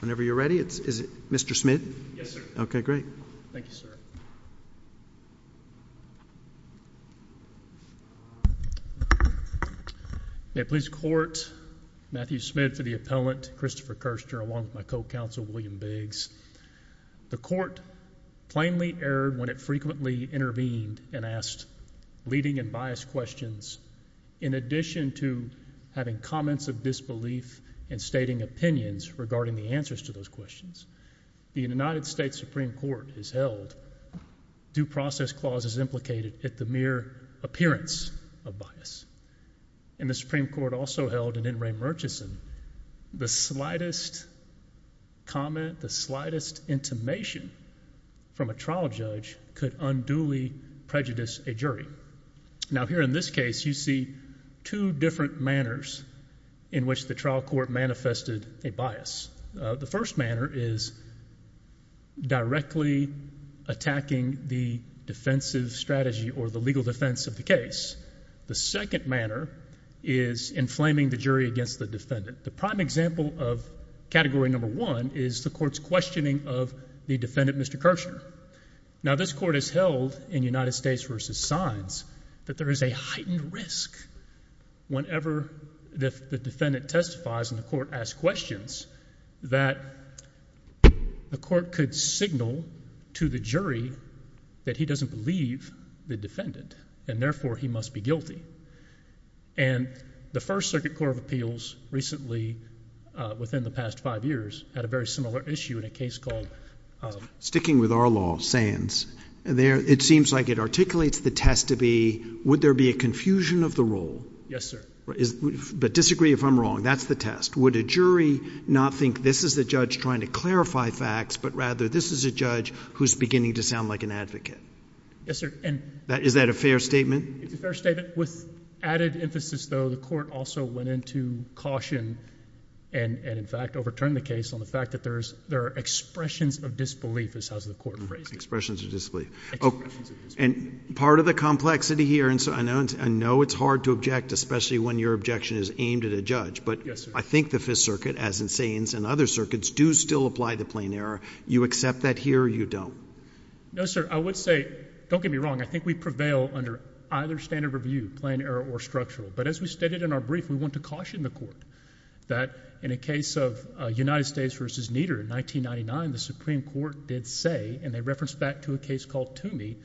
Whenever you are ready. Is it Mr. Smith? Yes, sir. Okay, great. Thank you, sir. May it please court, Matthew Smith for the appellant, Christopher Kirchner, along with my co-counsel, William Biggs. The court plainly erred when it frequently intervened and asked leading and biased questions in addition to having comments of disbelief and stating opinions regarding the answers to those questions. The United States Supreme Court has held due process clauses implicated at the mere appearance of bias. And the Supreme Court also held in N. Ray Murchison the slightest comment, the slightest intimation from a trial judge could unduly prejudice a jury. Now here in this case, you see two different manners in which the trial court manifested a bias. The first manner is directly attacking the defensive strategy or the legal defense of the case. The second manner is inflaming the jury against the defendant. The prime example of category number one is the court's questioning of the defendant, Mr. Kirchner. Now this court has held in United States v. Sines that there is a heightened risk whenever the defendant testifies and the court asks questions that the court could signal to the jury that he doesn't believe the defendant and therefore he must be guilty. And the First Amendment, within the past five years, had a very similar issue in a case called... Sticking with our law, Sines, it seems like it articulates the test to be would there be a confusion of the rule? Yes sir. But disagree if I'm wrong, that's the test. Would a jury not think this is the judge trying to clarify facts but rather this is a judge who's beginning to sound like an advocate? Yes sir. Is that a fair statement? It's a fair statement. With caution and in fact overturn the case on the fact that there are expressions of disbelief, as the court phrased it. Expressions of disbelief. And part of the complexity here, and I know it's hard to object, especially when your objection is aimed at a judge, but I think the Fifth Circuit, as in Sines and other circuits, do still apply the plain error. You accept that here or you don't? No sir, I would say, don't get me wrong, I think we prevail under either standard of review, plain error or structural. But as we stated in our brief, we want to caution the court that in a case of United States v. Nieder in 1999, the Supreme Court did say, and they referenced back to a case called Toomey,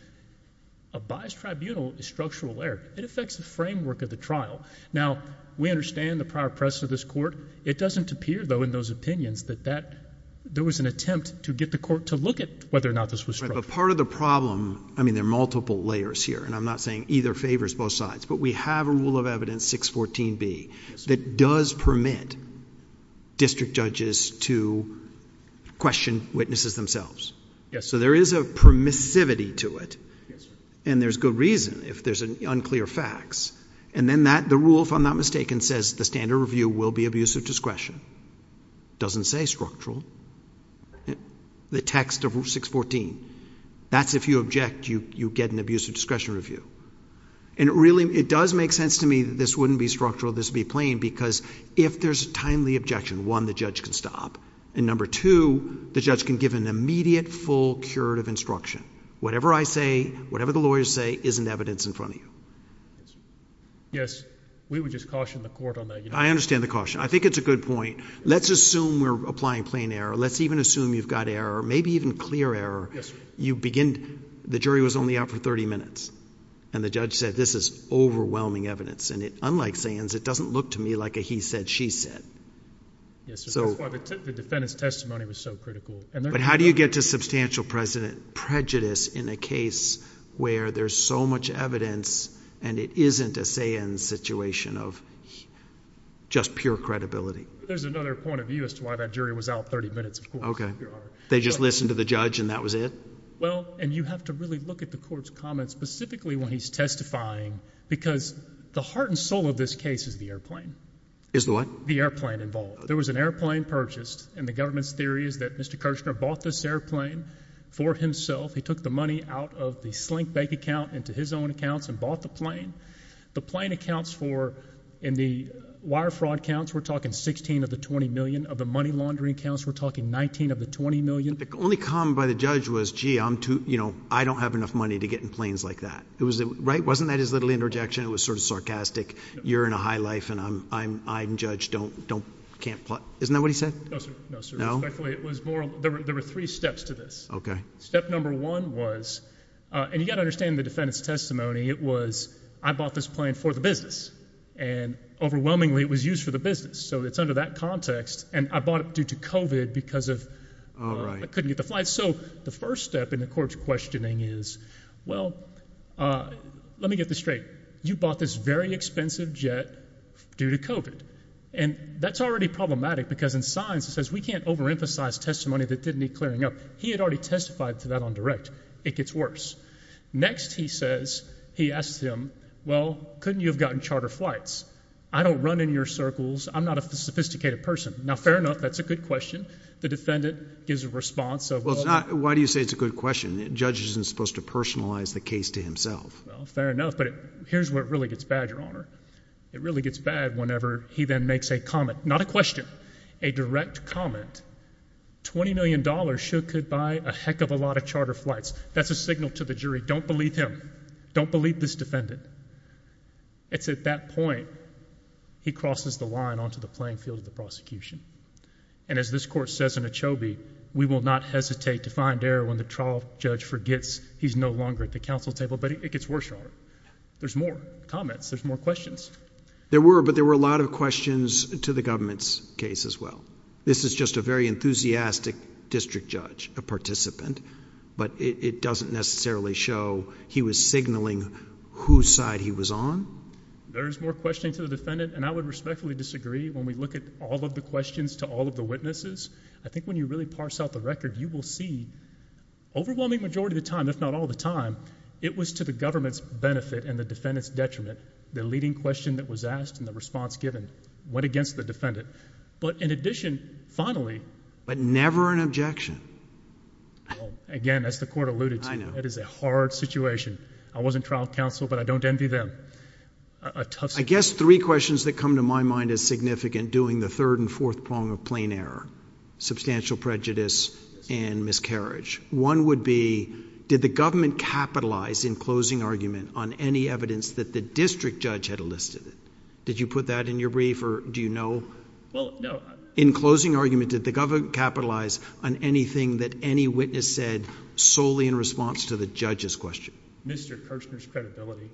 a biased tribunal is structural error. It affects the framework of the trial. Now, we understand the prior press of this court. It doesn't appear though in those opinions that there was an attempt to get the court to look at whether or not this was structural. But part of the problem, I mean there are multiple layers here, and I'm not saying either favors both sides, but we have a rule of evidence, 614B, that does permit district judges to question witnesses themselves. So there is a permissivity to it, and there's good reason if there's unclear facts. And then the rule, if I'm not mistaken, says the standard of review will be abuse of discretion. Doesn't say structural. The text of 614, that's if you object, you get an abuse of discretion review. And it really, it does make sense to me that this wouldn't be structural, this would be plain, because if there's a timely objection, one, the judge can stop. And number two, the judge can give an immediate full curative instruction. Whatever I say, whatever the lawyers say, isn't evidence in front of you. Yes, we would just caution the court on that. I understand the caution. I think it's a good point. Let's assume we're applying plain error. Let's even assume you've got error, maybe even clear error. You begin, the jury was only out for 30 minutes. And the judge said, this is overwhelming evidence. And unlike Sands, it doesn't look to me like a he said, she said. Yes, that's why the defendant's testimony was so critical. But how do you get to substantial prejudice in a case where there's so much evidence, and it isn't a Sands situation of just pure credibility? There's another point of view as to why that jury was out 30 minutes, of course. They just listened to the judge and that was it? Well, and you have to really look at the court's comments specifically when he's testifying, because the heart and soul of this case is the airplane. Is the what? The airplane involved. There was an airplane purchased, and the government's theory is that Mr. Kirshner bought this airplane for himself. He took the money out of the Slinkbank account into his own accounts and bought the plane. The plane accounts for, in the wire fraud counts, we're talking 16 of the 20 million. Of the money laundering accounts, we're talking 19 of the 20 million. The only comment by the judge was, gee, I'm too, you know, I don't have enough money to get in planes like that. It was, right? Wasn't that his literal interjection? It was sort of sarcastic. You're in a high life and I'm, I'm, I'm judge, don't, don't, can't, isn't that what he said? No, sir. No, sir. No? It was more, there were three steps to this. Okay. Step number one was, uh, and you got to understand the defendant's testimony. It was, I bought this plane for the business and overwhelmingly it was used for the business. So it's under that context and I bought it due to COVID because of, I couldn't get the flight. So the first step in the court's questioning is, well, uh, let me get this straight. You bought this very expensive jet due to COVID and that's already problematic because in science it says we can't overemphasize testimony that didn't need clearing up. He had already testified to that on direct. It gets worse. Next he says, he asked him, well, couldn't you have gotten charter flights? I don't run in your circles. I'm not a sophisticated person. Now, fair enough. That's a good question. The defendant gives a response of, why do you say it's a good question? Judge isn't supposed to personalize the case to himself. Well, fair enough. But here's where it really gets bad, your honor. It really gets bad whenever he then makes a comment, not a question, a direct comment, $20 million should could buy a heck of a lot of charter flights. That's a signal to the jury. Don't believe him. Don't believe this defendant. It's at that point he crosses the line onto the playing field of the prosecution. And as this court says in a Chobie, we will not hesitate to find error when the trial judge forgets he's no longer at the council table, but it gets worse. There's more comments. There's more questions. There were, but there were a lot of questions the government's case as well. This is just a very enthusiastic district judge, a participant, but it doesn't necessarily show he was signaling whose side he was on. There is more questioning to the defendant. And I would respectfully disagree when we look at all of the questions to all of the witnesses. I think when you really parse out the record, you will see overwhelming majority of the time, if not all the time, it was to the government's benefit and the defendant's detriment. The leading question that was asked in the response given went against the defendant. But in addition, finally, but never an objection. Again, that's the court alluded to. It is a hard situation. I wasn't trial counsel, but I don't envy them. A tough, I guess three questions that come to my mind as significant doing the third and fourth prong of plain error, substantial prejudice and miscarriage. One would be, did the government capitalize in closing argument on any evidence that the district judge had listed it? Did you put that in your brief or do you know? Well, no. In closing argument, did the government capitalize on anything that any witness said solely in response to the judge's question? Mr. Kirchner's credibility.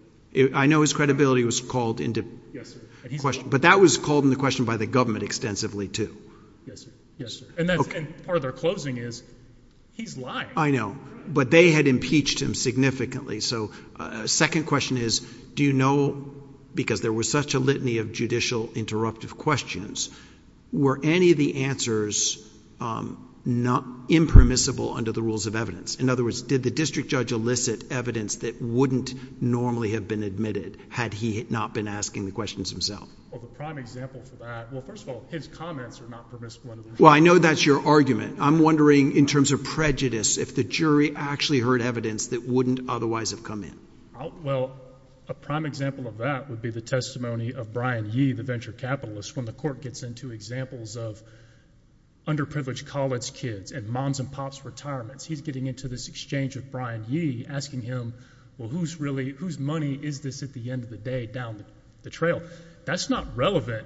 I know his credibility was called into question, but that was called in the question by the government extensively too. Yes, sir. Yes, sir. And that's part of their closing is he's lying. I know, but they had impeached him significantly. So a second question is, do you know, because there was such a litany of judicial interruptive questions, were any of the answers, um, not impermissible under the rules of evidence? In other words, did the district judge elicit evidence that wouldn't normally have been admitted had he not been asking the questions himself? Well, the prime example for that, well, first of all, his comments are not permissible. Well, I know that's your argument. I'm wondering in terms of prejudice, if the jury actually heard evidence that wouldn't otherwise have come in. Well, a prime example of that would be the testimony of Brian Yee, the venture capitalist. When the court gets into examples of underprivileged college kids and moms and pops retirements, he's getting into this exchange of Brian Yee asking him, well, who's really whose money is this at the end of the day down the trail? That's not relevant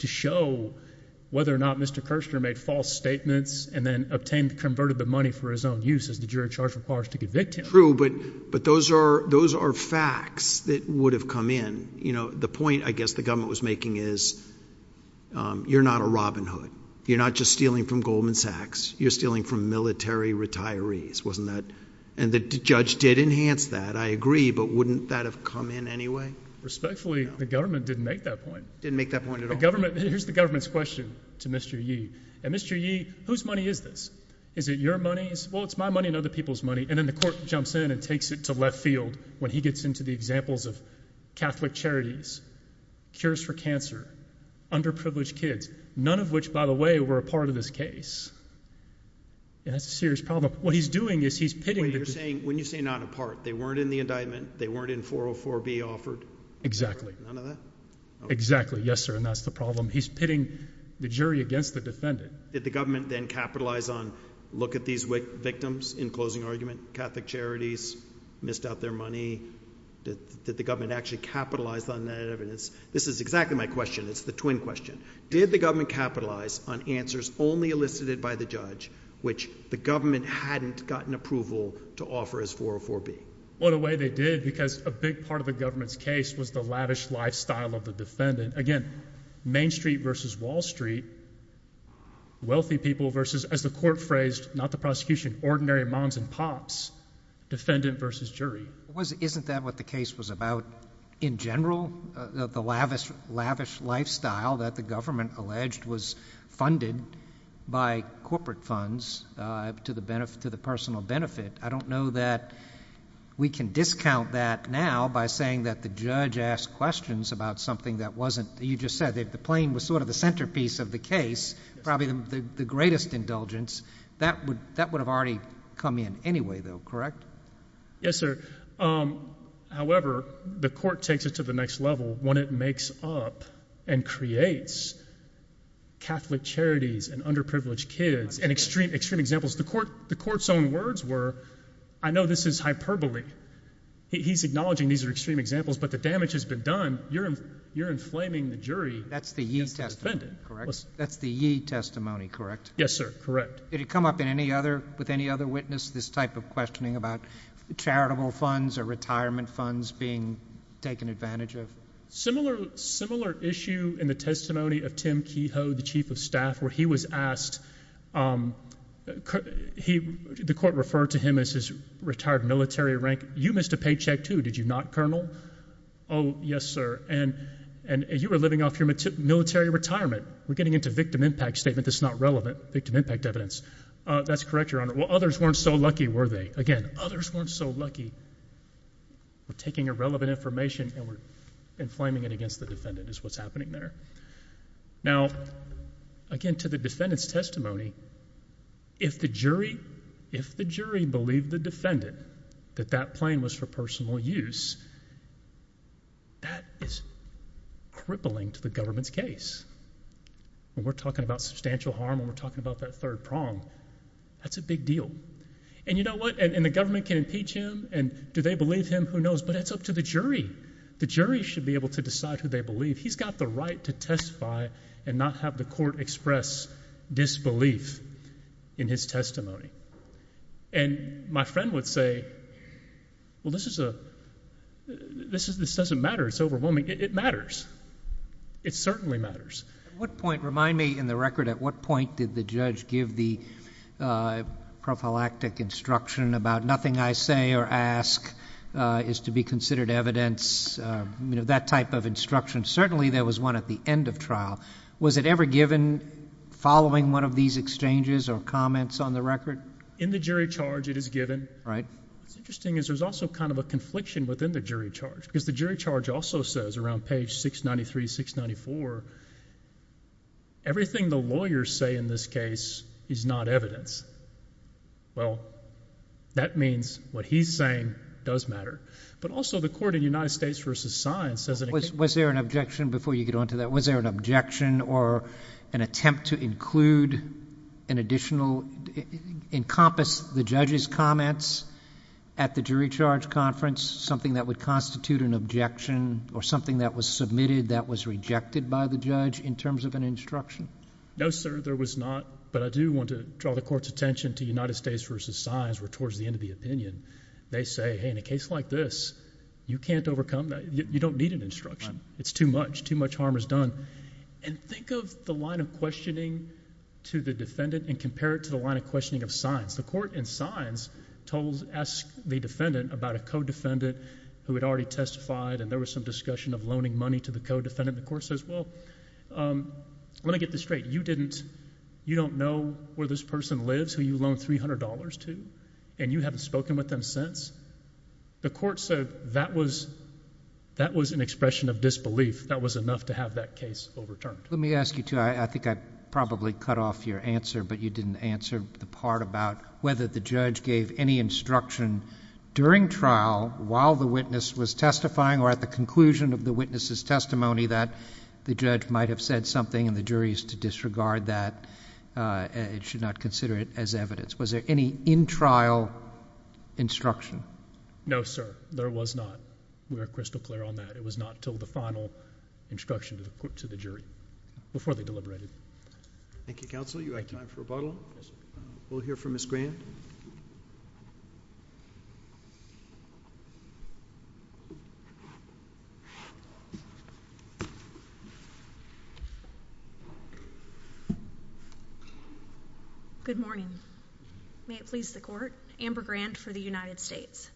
to show whether or not Mr. Kirchner made false statements and then obtained, converted the money for his own use as the jury charge requires to convict him. True, but, but those are, those are facts that would have come in. You know, the point, I guess the government was making is, um, you're not a Robin Hood. You're not just stealing from Goldman Sachs. You're stealing from military retirees, wasn't that? And the judge did enhance that. I agree, but wouldn't that have come in anyway? Respectfully, the government didn't make that point. Didn't make that point at all. The government, here's the government's question to Mr. Yee. And Mr. Yee, whose money is this? Is it your money? Well, it's my money and other people's money. And then the court jumps in and takes it to left field when he gets into the examples of Catholic charities, cures for cancer, underprivileged kids, none of which by the way, were a part of this case. And that's a serious problem. What he's doing is he's pitting. When you're saying, when you say not a part, they weren't in the indictment. They weren't in 404B offered. Exactly. None of that. Exactly. Yes, sir. And that's the problem. He's pitting the jury against the defendant. Did the government then capitalize on look at these victims in closing argument, Catholic charities missed out their money? Did the government actually capitalize on that evidence? This is exactly my question. It's the twin question. Did the government capitalize on answers only elicited by the judge, which the government hadn't gotten approval to offer as 404B? Well, in a way they did because a big part of the government's case was the lavish lifestyle of the defendant. Again, Main Street versus Wall Street, wealthy people versus, as the court phrased, not the prosecution, ordinary moms and pops, defendant versus jury. Wasn't, isn't that what the case was about in general? The lavish, lavish lifestyle that the government alleged was funded by corporate funds to the benefit, to the personal benefit. I don't know that we can discount that now by saying that the judge asked questions about something that wasn't, you just said that the plane was sort of the centerpiece of the case, probably the greatest indulgence. That would, that would have already come in anyway though, correct? Yes, sir. However, the court takes it to the next level when it makes up and creates Catholic charities and underprivileged kids and extreme, extreme examples. The court, the court's own words were, I know this is hyperbole. He's acknowledging these are extreme examples, but the damage has been done. You're, you're inflaming the jury. That's the ye testimony, correct? That's the ye testimony, correct? Yes, sir. Correct. Did it come up in any other, with any other witness, this type of questioning about charitable funds or retirement funds being taken advantage of? Similar, similar issue in the testimony of Tim Kehoe, the chief of staff, where he was asked, um, he, the court referred to him as his retired military rank. You missed a paycheck too, did you not, Colonel? Oh, yes, sir. And, and you were living off your military retirement. We're getting into victim impact statement. That's not relevant. Victim impact evidence. Uh, that's correct, Your Honor. Well, others weren't so lucky, were they? Again, others weren't so lucky. We're taking irrelevant information and we're inflaming it against the defendant is what's happening there. Now, again, to the defendant's testimony, if the jury, if the jury believed the defendant that that plane was for personal use, that is crippling to the government's case. When we're talking about substantial harm and we're talking about that third prong, that's a big deal. And you know what? And, and the government can impeach him and do they believe him? Who knows? But it's up to the jury. The jury should be able to decide who they believe. He's got the right to testify and not have the court express disbelief in his testimony. And my friend would say, well, this is a, this is, this doesn't matter. It's overwhelming. It matters. It certainly matters. What point remind me in the record, at what point did the judge give the, uh, prophylactic instruction about nothing I say or ask, uh, is to be considered evidence, uh, you know, that type of instruction. Certainly there was one at the end of trial. Was it ever given following one of these exchanges or comments on the record? In the jury charge, it is given, right? What's interesting is there's also kind of a confliction within the jury charge because the jury charge also says around page 693, 694, everything the lawyers say in this case is not evidence. Well, that means what he's saying does matter, but also the court in United States versus science as it was, was there an objection before you get onto that? Was there an objection or an attempt to include an additional encompass the judge's comments at the jury charge conference, something that would constitute an objection or something that was submitted that was rejected by the judge in terms of an instruction? No, sir, there was not, but I do want to draw the court's attention to United States versus signs were towards the end of the opinion. They say, Hey, in a case like this, you can't overcome that. You don't need an instruction. It's too much. Too much harm is done. And think of the line of questioning to the defendant and compare it to the line of questioning of signs. The court and signs told, ask the defendant about a co-defendant who had already testified and there was some discussion of loaning money to the co-defendant. The court says, well, um, let me get this straight. You didn't, you don't know where this person lives who you loaned $300 to and you haven't spoken with them since. The court said that was, that was an expression of disbelief. That was enough to have that case overturned. Let me ask you to, I think I probably cut off your answer, but you didn't answer the part about whether the judge gave any instruction during trial while the witness was testifying or at the conclusion of the witness's testimony that the judge might have said something and the jury's to disregard that, uh, it should not consider it as evidence. Was there any in trial instruction? No, sir. There was not. We are crystal clear on that. It was not until the final instruction to the court, to the jury before they deliberated. Thank you, counsel. You have time for a bottle. We'll hear from Miss Grant. Good morning. May it please the court. Amber Grant for the United States.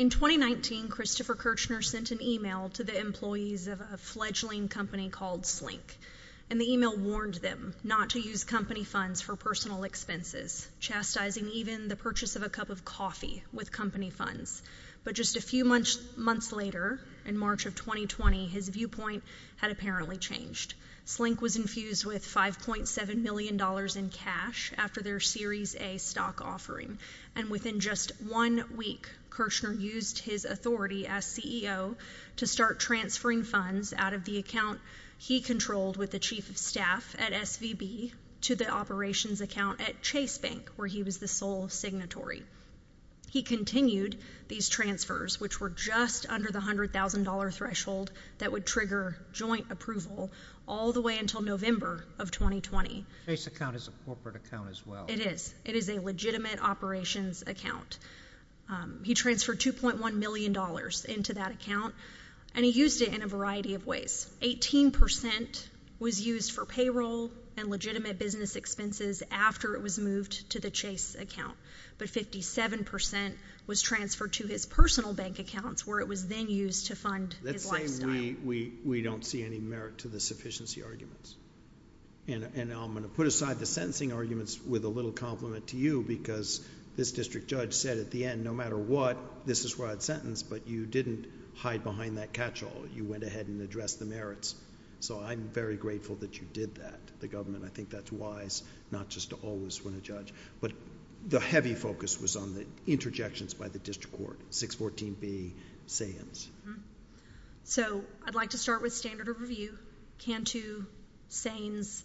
In 2019, Christopher Kirchner sent an email to the employees of a fledgling company called Slink and the email warned them not to use company funds for personal expenses, chastising even the purchase of a cup of coffee with company funds. But just a few months, months later, in March of 2020, his viewpoint had apparently changed. Slink was infused with $5.7 million in cash after their series a stock offering. And within just one week, Kirchner used his authority as CEO to start to the operations account at Chase Bank, where he was the sole signatory. He continued these transfers, which were just under the $100,000 threshold that would trigger joint approval all the way until November of 2020. Chase account is a corporate account as well. It is. It is a legitimate operations account. He transferred $2.1 million into that account and he used it in a variety of ways. 18% was used for payroll and legitimate business expenses after it was moved to the Chase account. But 57% was transferred to his personal bank accounts where it was then used to fund his lifestyle. Let's say we don't see any merit to the sufficiency arguments. And I'm going to put aside the sentencing arguments with a little compliment to you because this district judge said at the end, no matter what, this is a broad sentence, but you didn't hide behind that catch-all. You went ahead and addressed the merits. So I'm very grateful that you did that. The government, I think, that's wise, not just to always win a judge. But the heavy focus was on the interjections by the district court, 614B, Sayings. So I'd like to start with standard of review. Cantu, Sayings,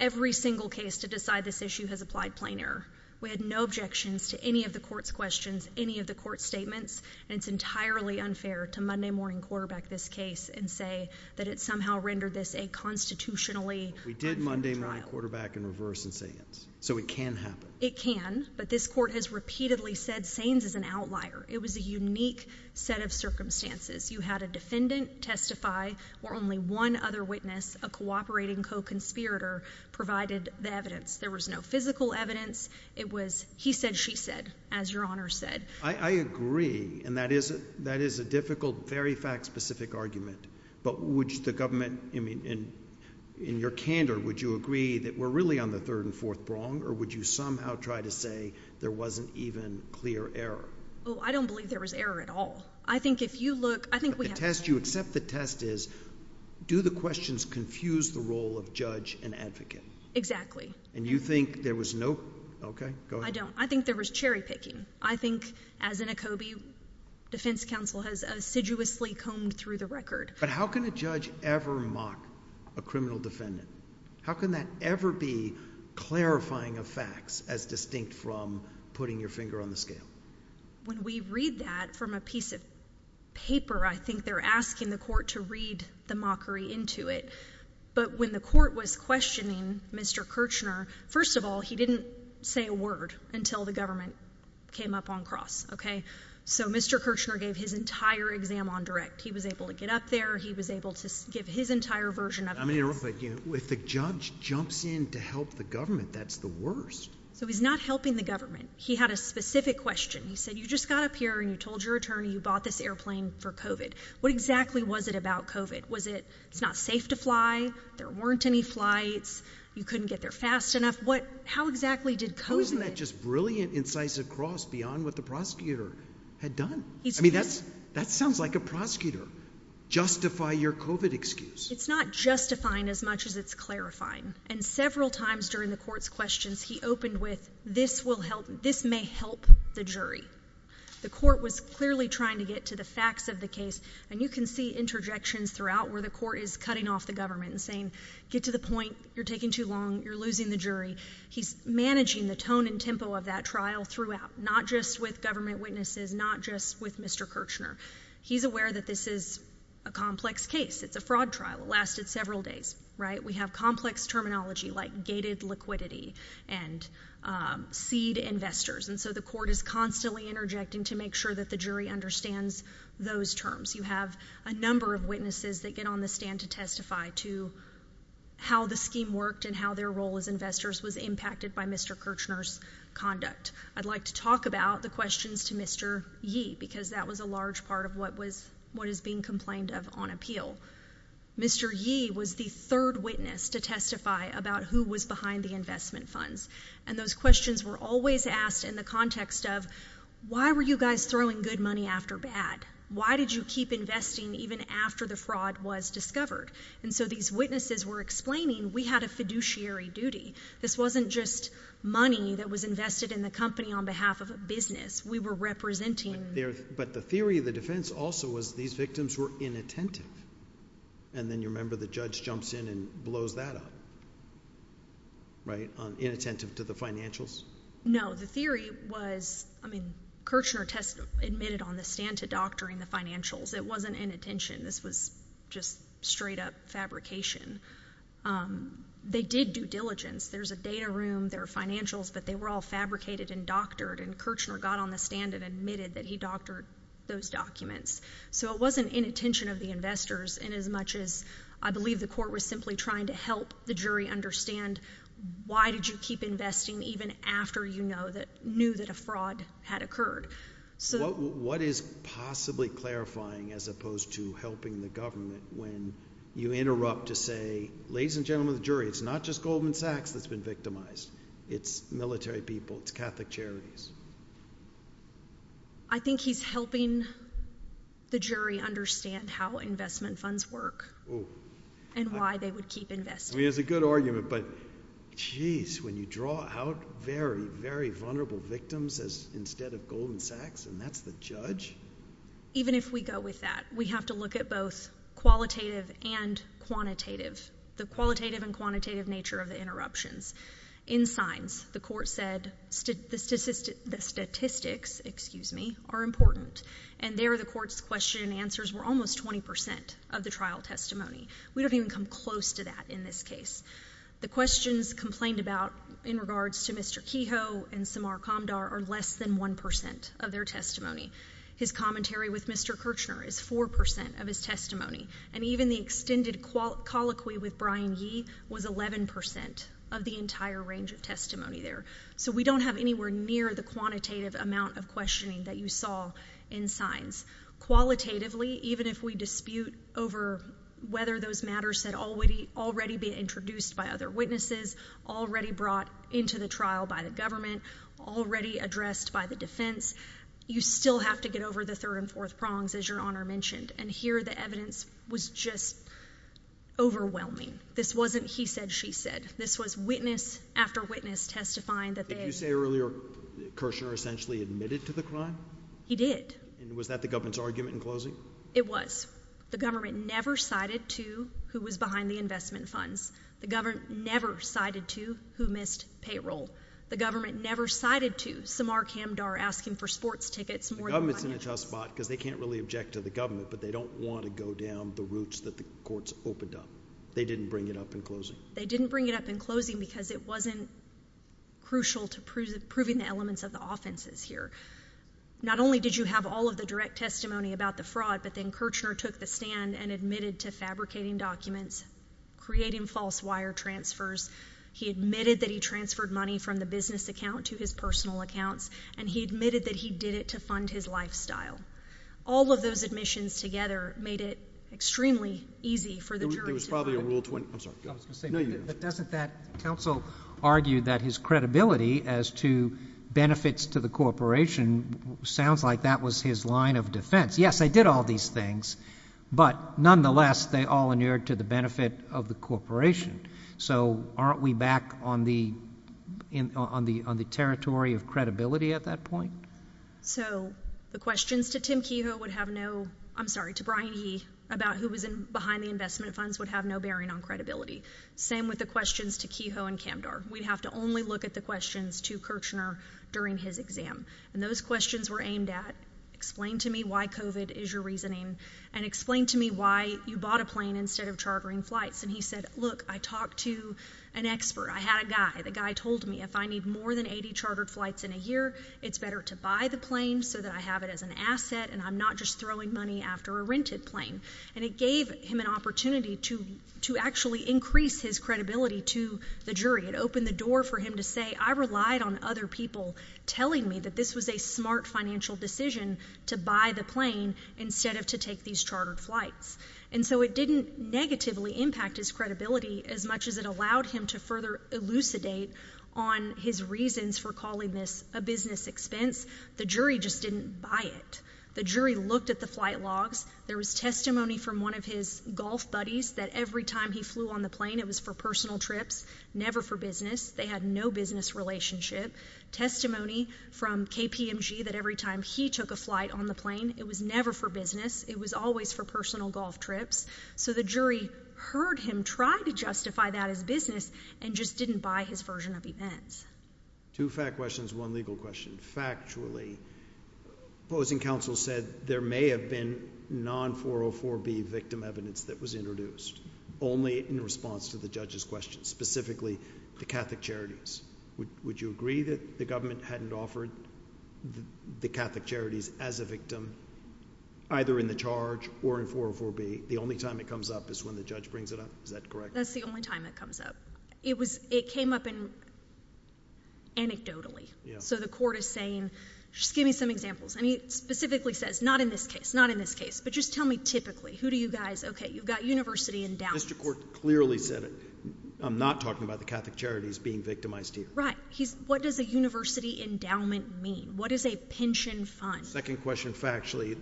every single case to decide this issue has applied plain error. We had no objections to any of the court's questions, any of the court's statements. And it's entirely unfair to Monday Morning Quarterback this case and say that it somehow rendered this a constitutionally unfair trial. We did Monday Morning Quarterback in reverse and say yes. So it can happen. It can. But this court has repeatedly said Sayings is an outlier. It was a unique set of circumstances. You had a defendant testify where only one other witness, a cooperating co-conspirator, provided the evidence. There was no physical evidence. It was he said, she said, as Your Honor said. I agree. And that is a difficult, very fact-specific argument. But would the government, I mean, in your candor, would you agree that we're really on the third and fourth prong? Or would you somehow try to say there wasn't even clear error? Oh, I don't believe there was error at all. I think if you look, I think we have to say— But the test, you accept the test is, do the questions confuse the role of judge and advocate? Exactly. And you think there was no—okay, go ahead. I don't. I think there was cherry-picking. I think, as in Akobe, defense counsel has assiduously combed through the record. But how can a judge ever mock a criminal defendant? How can that ever be clarifying of facts as distinct from putting your finger on the scale? When we read that from a piece of paper, I think they're asking the court to read the mockery into it. But when the court was questioning Mr. Kirchner, first of all, he didn't say a word until the government came up on cross, okay? So Mr. Kirchner gave his entire exam on direct. He was able to get up there. He was able to give his entire version of it. I mean, if the judge jumps in to help the government, that's the worst. So he's not helping the government. He had a specific question. He said, you just got up here and you told your attorney you bought this airplane for COVID. What exactly was it about COVID? Was it, it's not safe to fly, there weren't any flights, you couldn't get there fast enough? What, how exactly did COVID... How is that just brilliant, incisive cross beyond what the prosecutor had done? I mean, that sounds like a prosecutor. Justify your COVID excuse. It's not justifying as much as it's clarifying. And several times during the court's questions, he opened with, this may help the jury. The court was clearly trying to get to the facts of the case. And you can see interjections throughout where the court is cutting off the government and saying, get to the point, you're taking too long, you're losing the jury. He's managing the tone and tempo of that trial throughout, not just with government witnesses, not just with Mr. Kirchner. He's aware that this is a complex case. It's a fraud trial. It lasted several days, right? We have complex terminology like gated liquidity and seed investors. And so the court is constantly interjecting to make sure that the jury understands those terms. You have a number of witnesses that get on the stand to testify to how the scheme worked and how their role as investors was impacted by Mr. Kirchner's conduct. I'd like to talk about the questions to Mr. Yee, because that was a large part of what was, what is being complained of on appeal. Mr. Yee was the third witness to testify about who was behind the investment funds. And those questions were always asked in the context of, why were you guys throwing good money after bad? Why did you keep investing even after the fraud was discovered? And so these witnesses were explaining, we had a fiduciary duty. This wasn't just money that was invested in the company on behalf of a business. We were representing... But the theory of the defense also was these victims were inattentive. And then you remember the judge jumps in and blows that up, right, inattentive to the financials? No. The theory was, I mean, Kirchner admitted on the stand to doctoring the financials. It wasn't inattention. This was just straight-up fabrication. They did due diligence. There's a data room, there are financials, but they were all fabricated and doctored. And Kirchner got on the stand and admitted that he doctored those documents. So it wasn't inattention of the investors inasmuch as I believe the court was simply trying to help the jury understand, why did you keep investing even after you knew that a fraud had occurred? What is possibly clarifying as opposed to helping the government when you interrupt to say, ladies and gentlemen of the jury, it's not just Goldman Sachs that's been victimized. It's military people. It's Catholic charities. I think he's helping the jury understand how investment funds work and why they would keep investing. I mean, it's a good argument, but jeez, when you draw out very, very vulnerable victims instead of Goldman Sachs and that's the judge? Even if we go with that, we have to look at both qualitative and quantitative, the qualitative and quantitative nature of the interruptions. In signs, the court said the statistics, excuse me, are important. And there the court's question and answers were almost 20 percent of the trial testimony. We don't even come close to that in this case. The questions complained about in regards to Mr. Kehoe and Samar Kamdar are less than 1 percent of their testimony. His commentary with Mr. Kirchner is 4 percent of his testimony. And even the extended colloquy with Brian Yee was 11 percent of the entire range of testimony there. So we don't have anywhere near the quantitative amount of questioning that you saw in signs. Qualitatively, even if we dispute over whether those matters had already been introduced by other witnesses, already brought into the trial by the government, already addressed by the defense, you still have to get over the third and fourth prongs, as Your Honor mentioned. And here the evidence was just overwhelming. This wasn't he said, she said. This was witness after witness testifying that they had- Did you say earlier Kirchner essentially admitted to the crime? He did. And was that the government's argument in closing? It was. The government never cited to who was behind the investment funds. The government never cited to who missed payroll. The government never cited to Samar Kamdar asking for sports tickets more than- The government's in a tough spot because they can't really object to the government, but they don't want to go down the routes that the courts opened up. They didn't bring it up in closing. They didn't bring it up in closing because it wasn't crucial to proving the elements of the offenses here. Not only did you have all of the direct testimony about the fraud, but then Kirchner took the stand and admitted to fabricating documents, creating false wire transfers. He admitted that he transferred money from the business account to his personal lifestyle. All of those admissions together made it extremely easy for the jurors to- There was probably a Rule 20. I'm sorry. Go ahead. I was going to say, but doesn't that counsel argue that his credibility as to benefits to the corporation sounds like that was his line of defense? Yes, they did all these things, but nonetheless, they all inured to the benefit of the corporation. So aren't we back on the territory of credibility at that point? So the questions to Brian He about who was behind the investment funds would have no bearing on credibility. Same with the questions to Kehoe and Kamdar. We'd have to only look at the questions to Kirchner during his exam. Those questions were aimed at explain to me why COVID is your reasoning and explain to me why you bought a plane instead of chartering flights. He said, look, I talked to an expert. I had a guy. The guy told me if I need more than 80 chartered flights in a year, it's better to buy the plane so that I have it as an asset and I'm not just throwing money after a rented plane. And it gave him an opportunity to actually increase his credibility to the jury. It opened the door for him to say, I relied on other people telling me that this was a smart financial decision to buy the plane instead of to take these chartered flights. And so it didn't negatively impact his credibility as much as it allowed him to further elucidate on his reasons for calling this a business expense. The jury just didn't buy it. The jury looked at the flight logs. There was testimony from one of his golf buddies that every time he flew on the plane, it was for personal trips, never for business. They had no business relationship. Testimony from KPMG that every time he took a flight on the plane, it was never for business. It was always for personal golf trips. So the jury heard him try to justify that as business and just didn't buy his version of events. Two fact questions, one legal question. Factually, opposing counsel said there may have been non-404b victim evidence that was introduced only in response to the judge's question, specifically the Catholic Charities. Would you agree that the government hadn't offered the Catholic Charities as a victim, either in the charge or in 404b, the only time it comes up is when the judge brings it up? Is that correct? That's the only time it comes up. It came up anecdotally. So the court is saying, just give me some examples. And he specifically says, not in this case, not in this case, but just tell me typically, who do you guys, okay, you've got university endowments. Mr. Court clearly said it. I'm not talking about the Catholic Charities being victimized here. Right. He's, what does a university endowment mean? What is a pension fund? Second question, factually,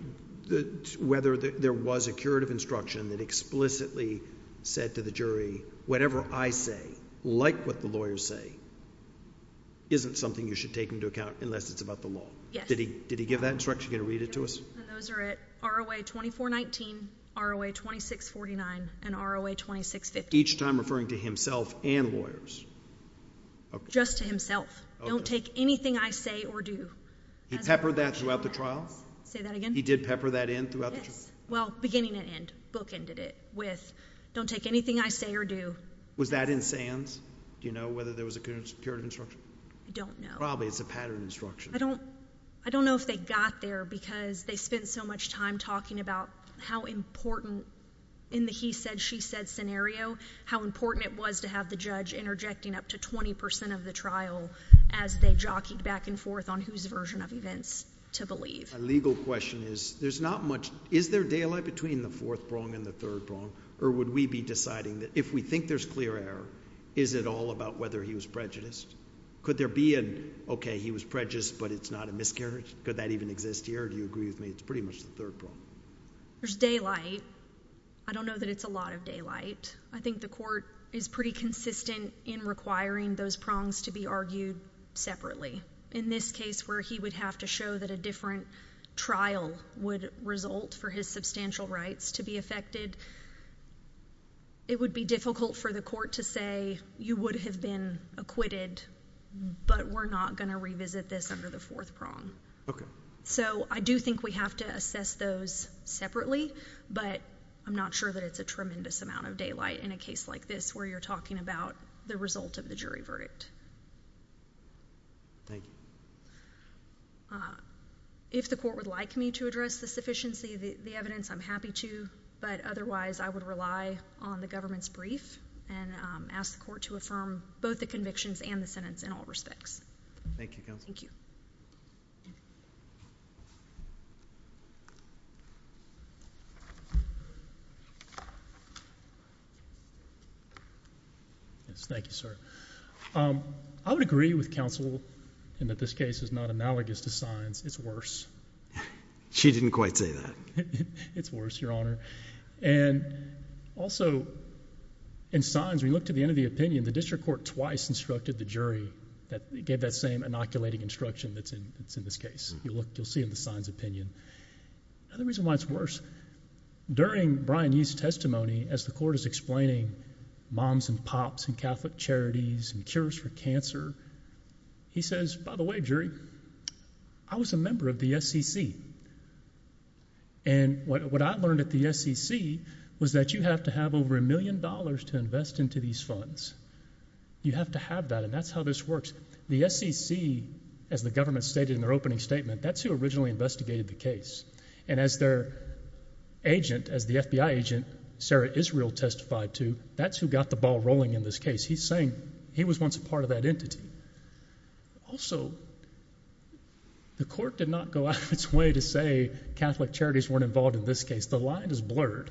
whether there was a curative instruction that explicitly said to the jury, whatever I say, like what the lawyers say, isn't something you should take into account unless it's about the law. Did he give that instruction? Can you read it to us? And those are at ROA 2419, ROA 2649, and ROA 2650. Each time referring to himself and lawyers? Just to himself. Don't take anything I say or do. He peppered that throughout the trial? Say that again? He did pepper that in throughout the trial? Yes. Well, beginning and end. Book ended it with, don't take anything I say or do. Was that in Sands? Do you know whether there was a curative instruction? I don't know. Probably. It's a patterned instruction. I don't know if they got there because they spent so much time talking about how important in the he said, she said scenario, how important it was to have the judge interjecting up to 20% of the trial as they jockeyed back and forth on whose version of events to believe. A legal question is, is there daylight between the fourth prong and the third prong, or would we be deciding that if we think there's clear error, is it all about whether he was prejudiced? Could there be an, okay, he was prejudiced, but it's not a miscarriage? Could that even exist here? Do you agree with me? It's pretty much the third prong. There's daylight. I don't know that it's a lot of daylight. I think the court is pretty consistent in requiring those prongs to be argued separately. In this case where he would have to show that a different trial would result for his substantial rights to be affected, it would be difficult for the court to say, you would have been acquitted, but we're not going to revisit this under the fourth prong. Okay. So I do think we have to assess those separately, but I'm not sure that it's a tremendous amount of daylight in a case like this where you're talking about the result of the jury verdict. Thank you. If the court would like me to address the sufficiency of the evidence, I'm happy to, but otherwise I would rely on the government's brief and ask the court to affirm both the convictions and the sentence in all respects. Thank you, Counsel. Thank you. Yes, thank you, sir. I would agree with counsel in that this case is not analogous to Sines. It's worse. She didn't quite say that. It's worse, Your Honor. Also, in Sines, when you look to the end of the opinion, the district court twice instructed the jury, gave that same inoculating instruction that's in this case. You'll see in the Sines opinion. Now, the reason why it's worse, during Brian Yee's testimony, as the court is explaining moms and pops and Catholic charities and cures for cancer, he says, by the way, jury, I was a member of the SEC, and what I learned at the SEC was that you have to have over a million dollars to invest into these funds. You have to have that, and that's how this works. The SEC, as the government stated in their opening statement, that's who originally investigated the case, and as their agent, as the FBI agent Sarah Israel testified to, that's who got the ball rolling in this case. He's saying he was once a part of that entity. Also, the court did not go out of its way to say Catholic charities weren't involved in this case. The line is blurred.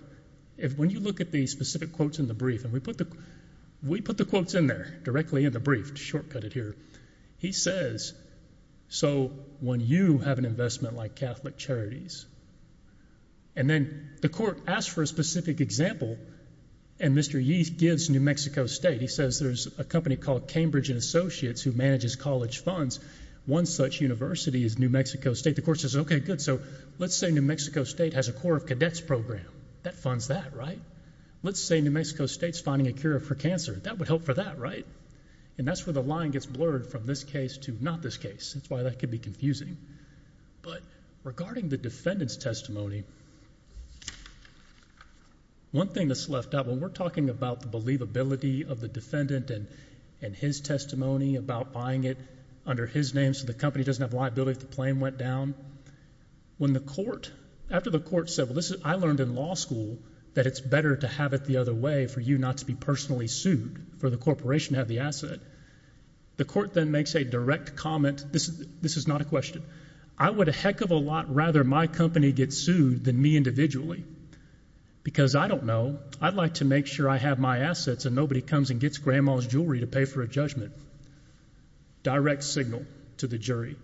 When you look at the specific quotes in the brief, and we put the quotes in there, directly in the brief, to shortcut it here. He says, so when you have an investment like Catholic charities, and then the court asks for a specific example, and Mr. Yee gives New Mexico State. He says there's a company called Cambridge and Associates who manages college funds. One such university is New Mexico State. The court says, okay, good. Let's say New Mexico State has a Corps of Cadets program. That funds that, right? Let's say New Mexico State's finding a cure for cancer. That would help for that, right? That's where the line gets blurred from this case to not this case. That's why that could be confusing. Regarding the defendant's testimony, one thing that's left out, when we're talking about the believability of the defendant and his testimony about buying it under his name so the company doesn't have liability if the claim went down, when the court, after the court said, well, I learned in law school that it's better to have it the other way for you not to be personally sued, for the corporation to have the asset, the court then makes a direct comment, this is not a question, I would a heck of a lot rather my company get sued than me individually, because I don't know, I'd like to make sure I have my assets and nobody comes and gets grandma's jewelry to pay for a judgment. Direct signal to the jury.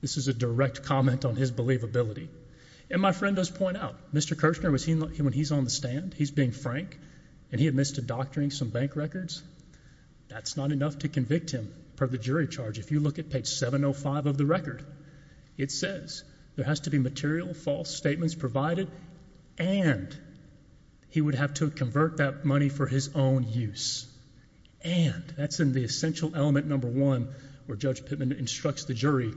This is a direct comment on his believability. And my friend does point out, Mr. Kirchner, when he's on the stand, he's being frank and he admits to doctoring some bank records, that's not enough to convict him per the jury charge. If you look at page 705 of the record, it says there has to be material false statements provided and he would have to convert that money for his own use, and that's in the essential element number one where Judge Pittman instructs the jury,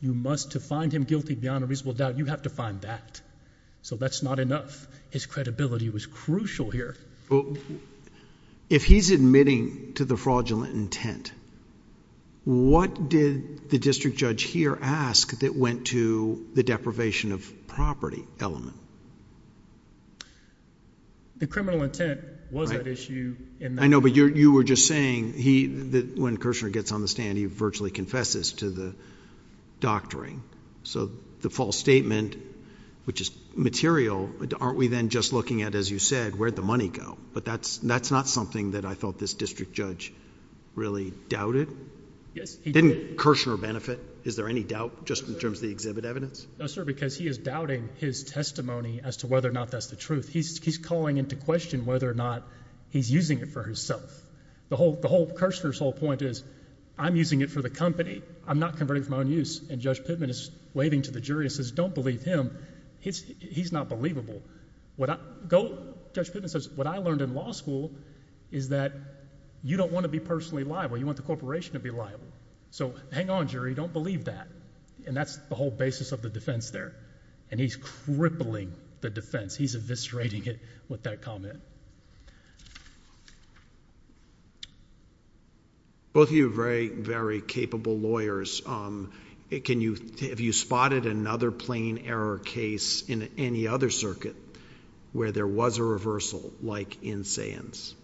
you must, to find him guilty beyond a reasonable doubt, you have to find that. So that's not enough. His credibility was crucial here. If he's admitting to the fraudulent intent, what did the district judge here ask that went to the deprivation of property element? The criminal intent was an issue in that... I know, but you were just saying, when Kirchner gets on the stand, he virtually confesses to the doctoring. So the false statement, which is material, aren't we then just looking at, as you said, where'd the money go? But that's not something that I thought this district judge really doubted. Didn't Kirchner benefit? Is there any doubt, just in terms of the exhibit evidence? No, sir, because he is doubting his testimony as to whether or not that's the truth. He's calling into question whether or not he's using it for himself. The whole, Kirchner's whole point is, I'm using it for the company. I'm not converting for my own use. And Judge Pittman is waving to the jury and says, don't believe him. He's not believable. What I, go, Judge Pittman says, what I learned in law school is that you don't want to be personally liable. You want the corporation to be liable. So hang on, jury, don't believe that. And that's the whole basis of the defense there. And he's crippling the defense. He's eviscerating it with that comment. Both of you are very, very capable lawyers. Can you, have you spotted another plain error case in any other circuit where there was a reversal, like in Sands?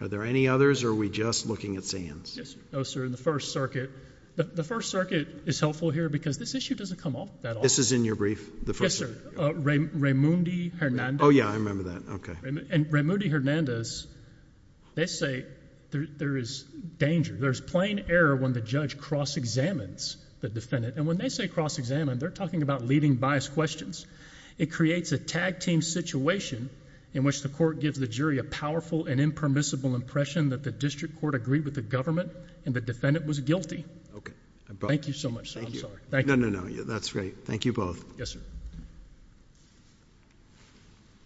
Are there any others, or are we just looking at Sands? Yes, sir. No, sir. In the First Circuit. The First Circuit is helpful here because this issue doesn't come off that often. This is in your brief? Yes, sir. Raymondi Hernandez. Oh, yeah. I remember that. Okay. And Raymondi Hernandez, they say there is danger. There's plain error when the judge cross-examines the defendant. And when they say cross-examine, they're talking about leading bias questions. It creates a tag-team situation in which the court gives the jury a powerful and impermissible impression that the district court agreed with the government and the defendant was guilty. Thank you so much, sir. No, no, no. That's great. Thank you both. Yes, sir.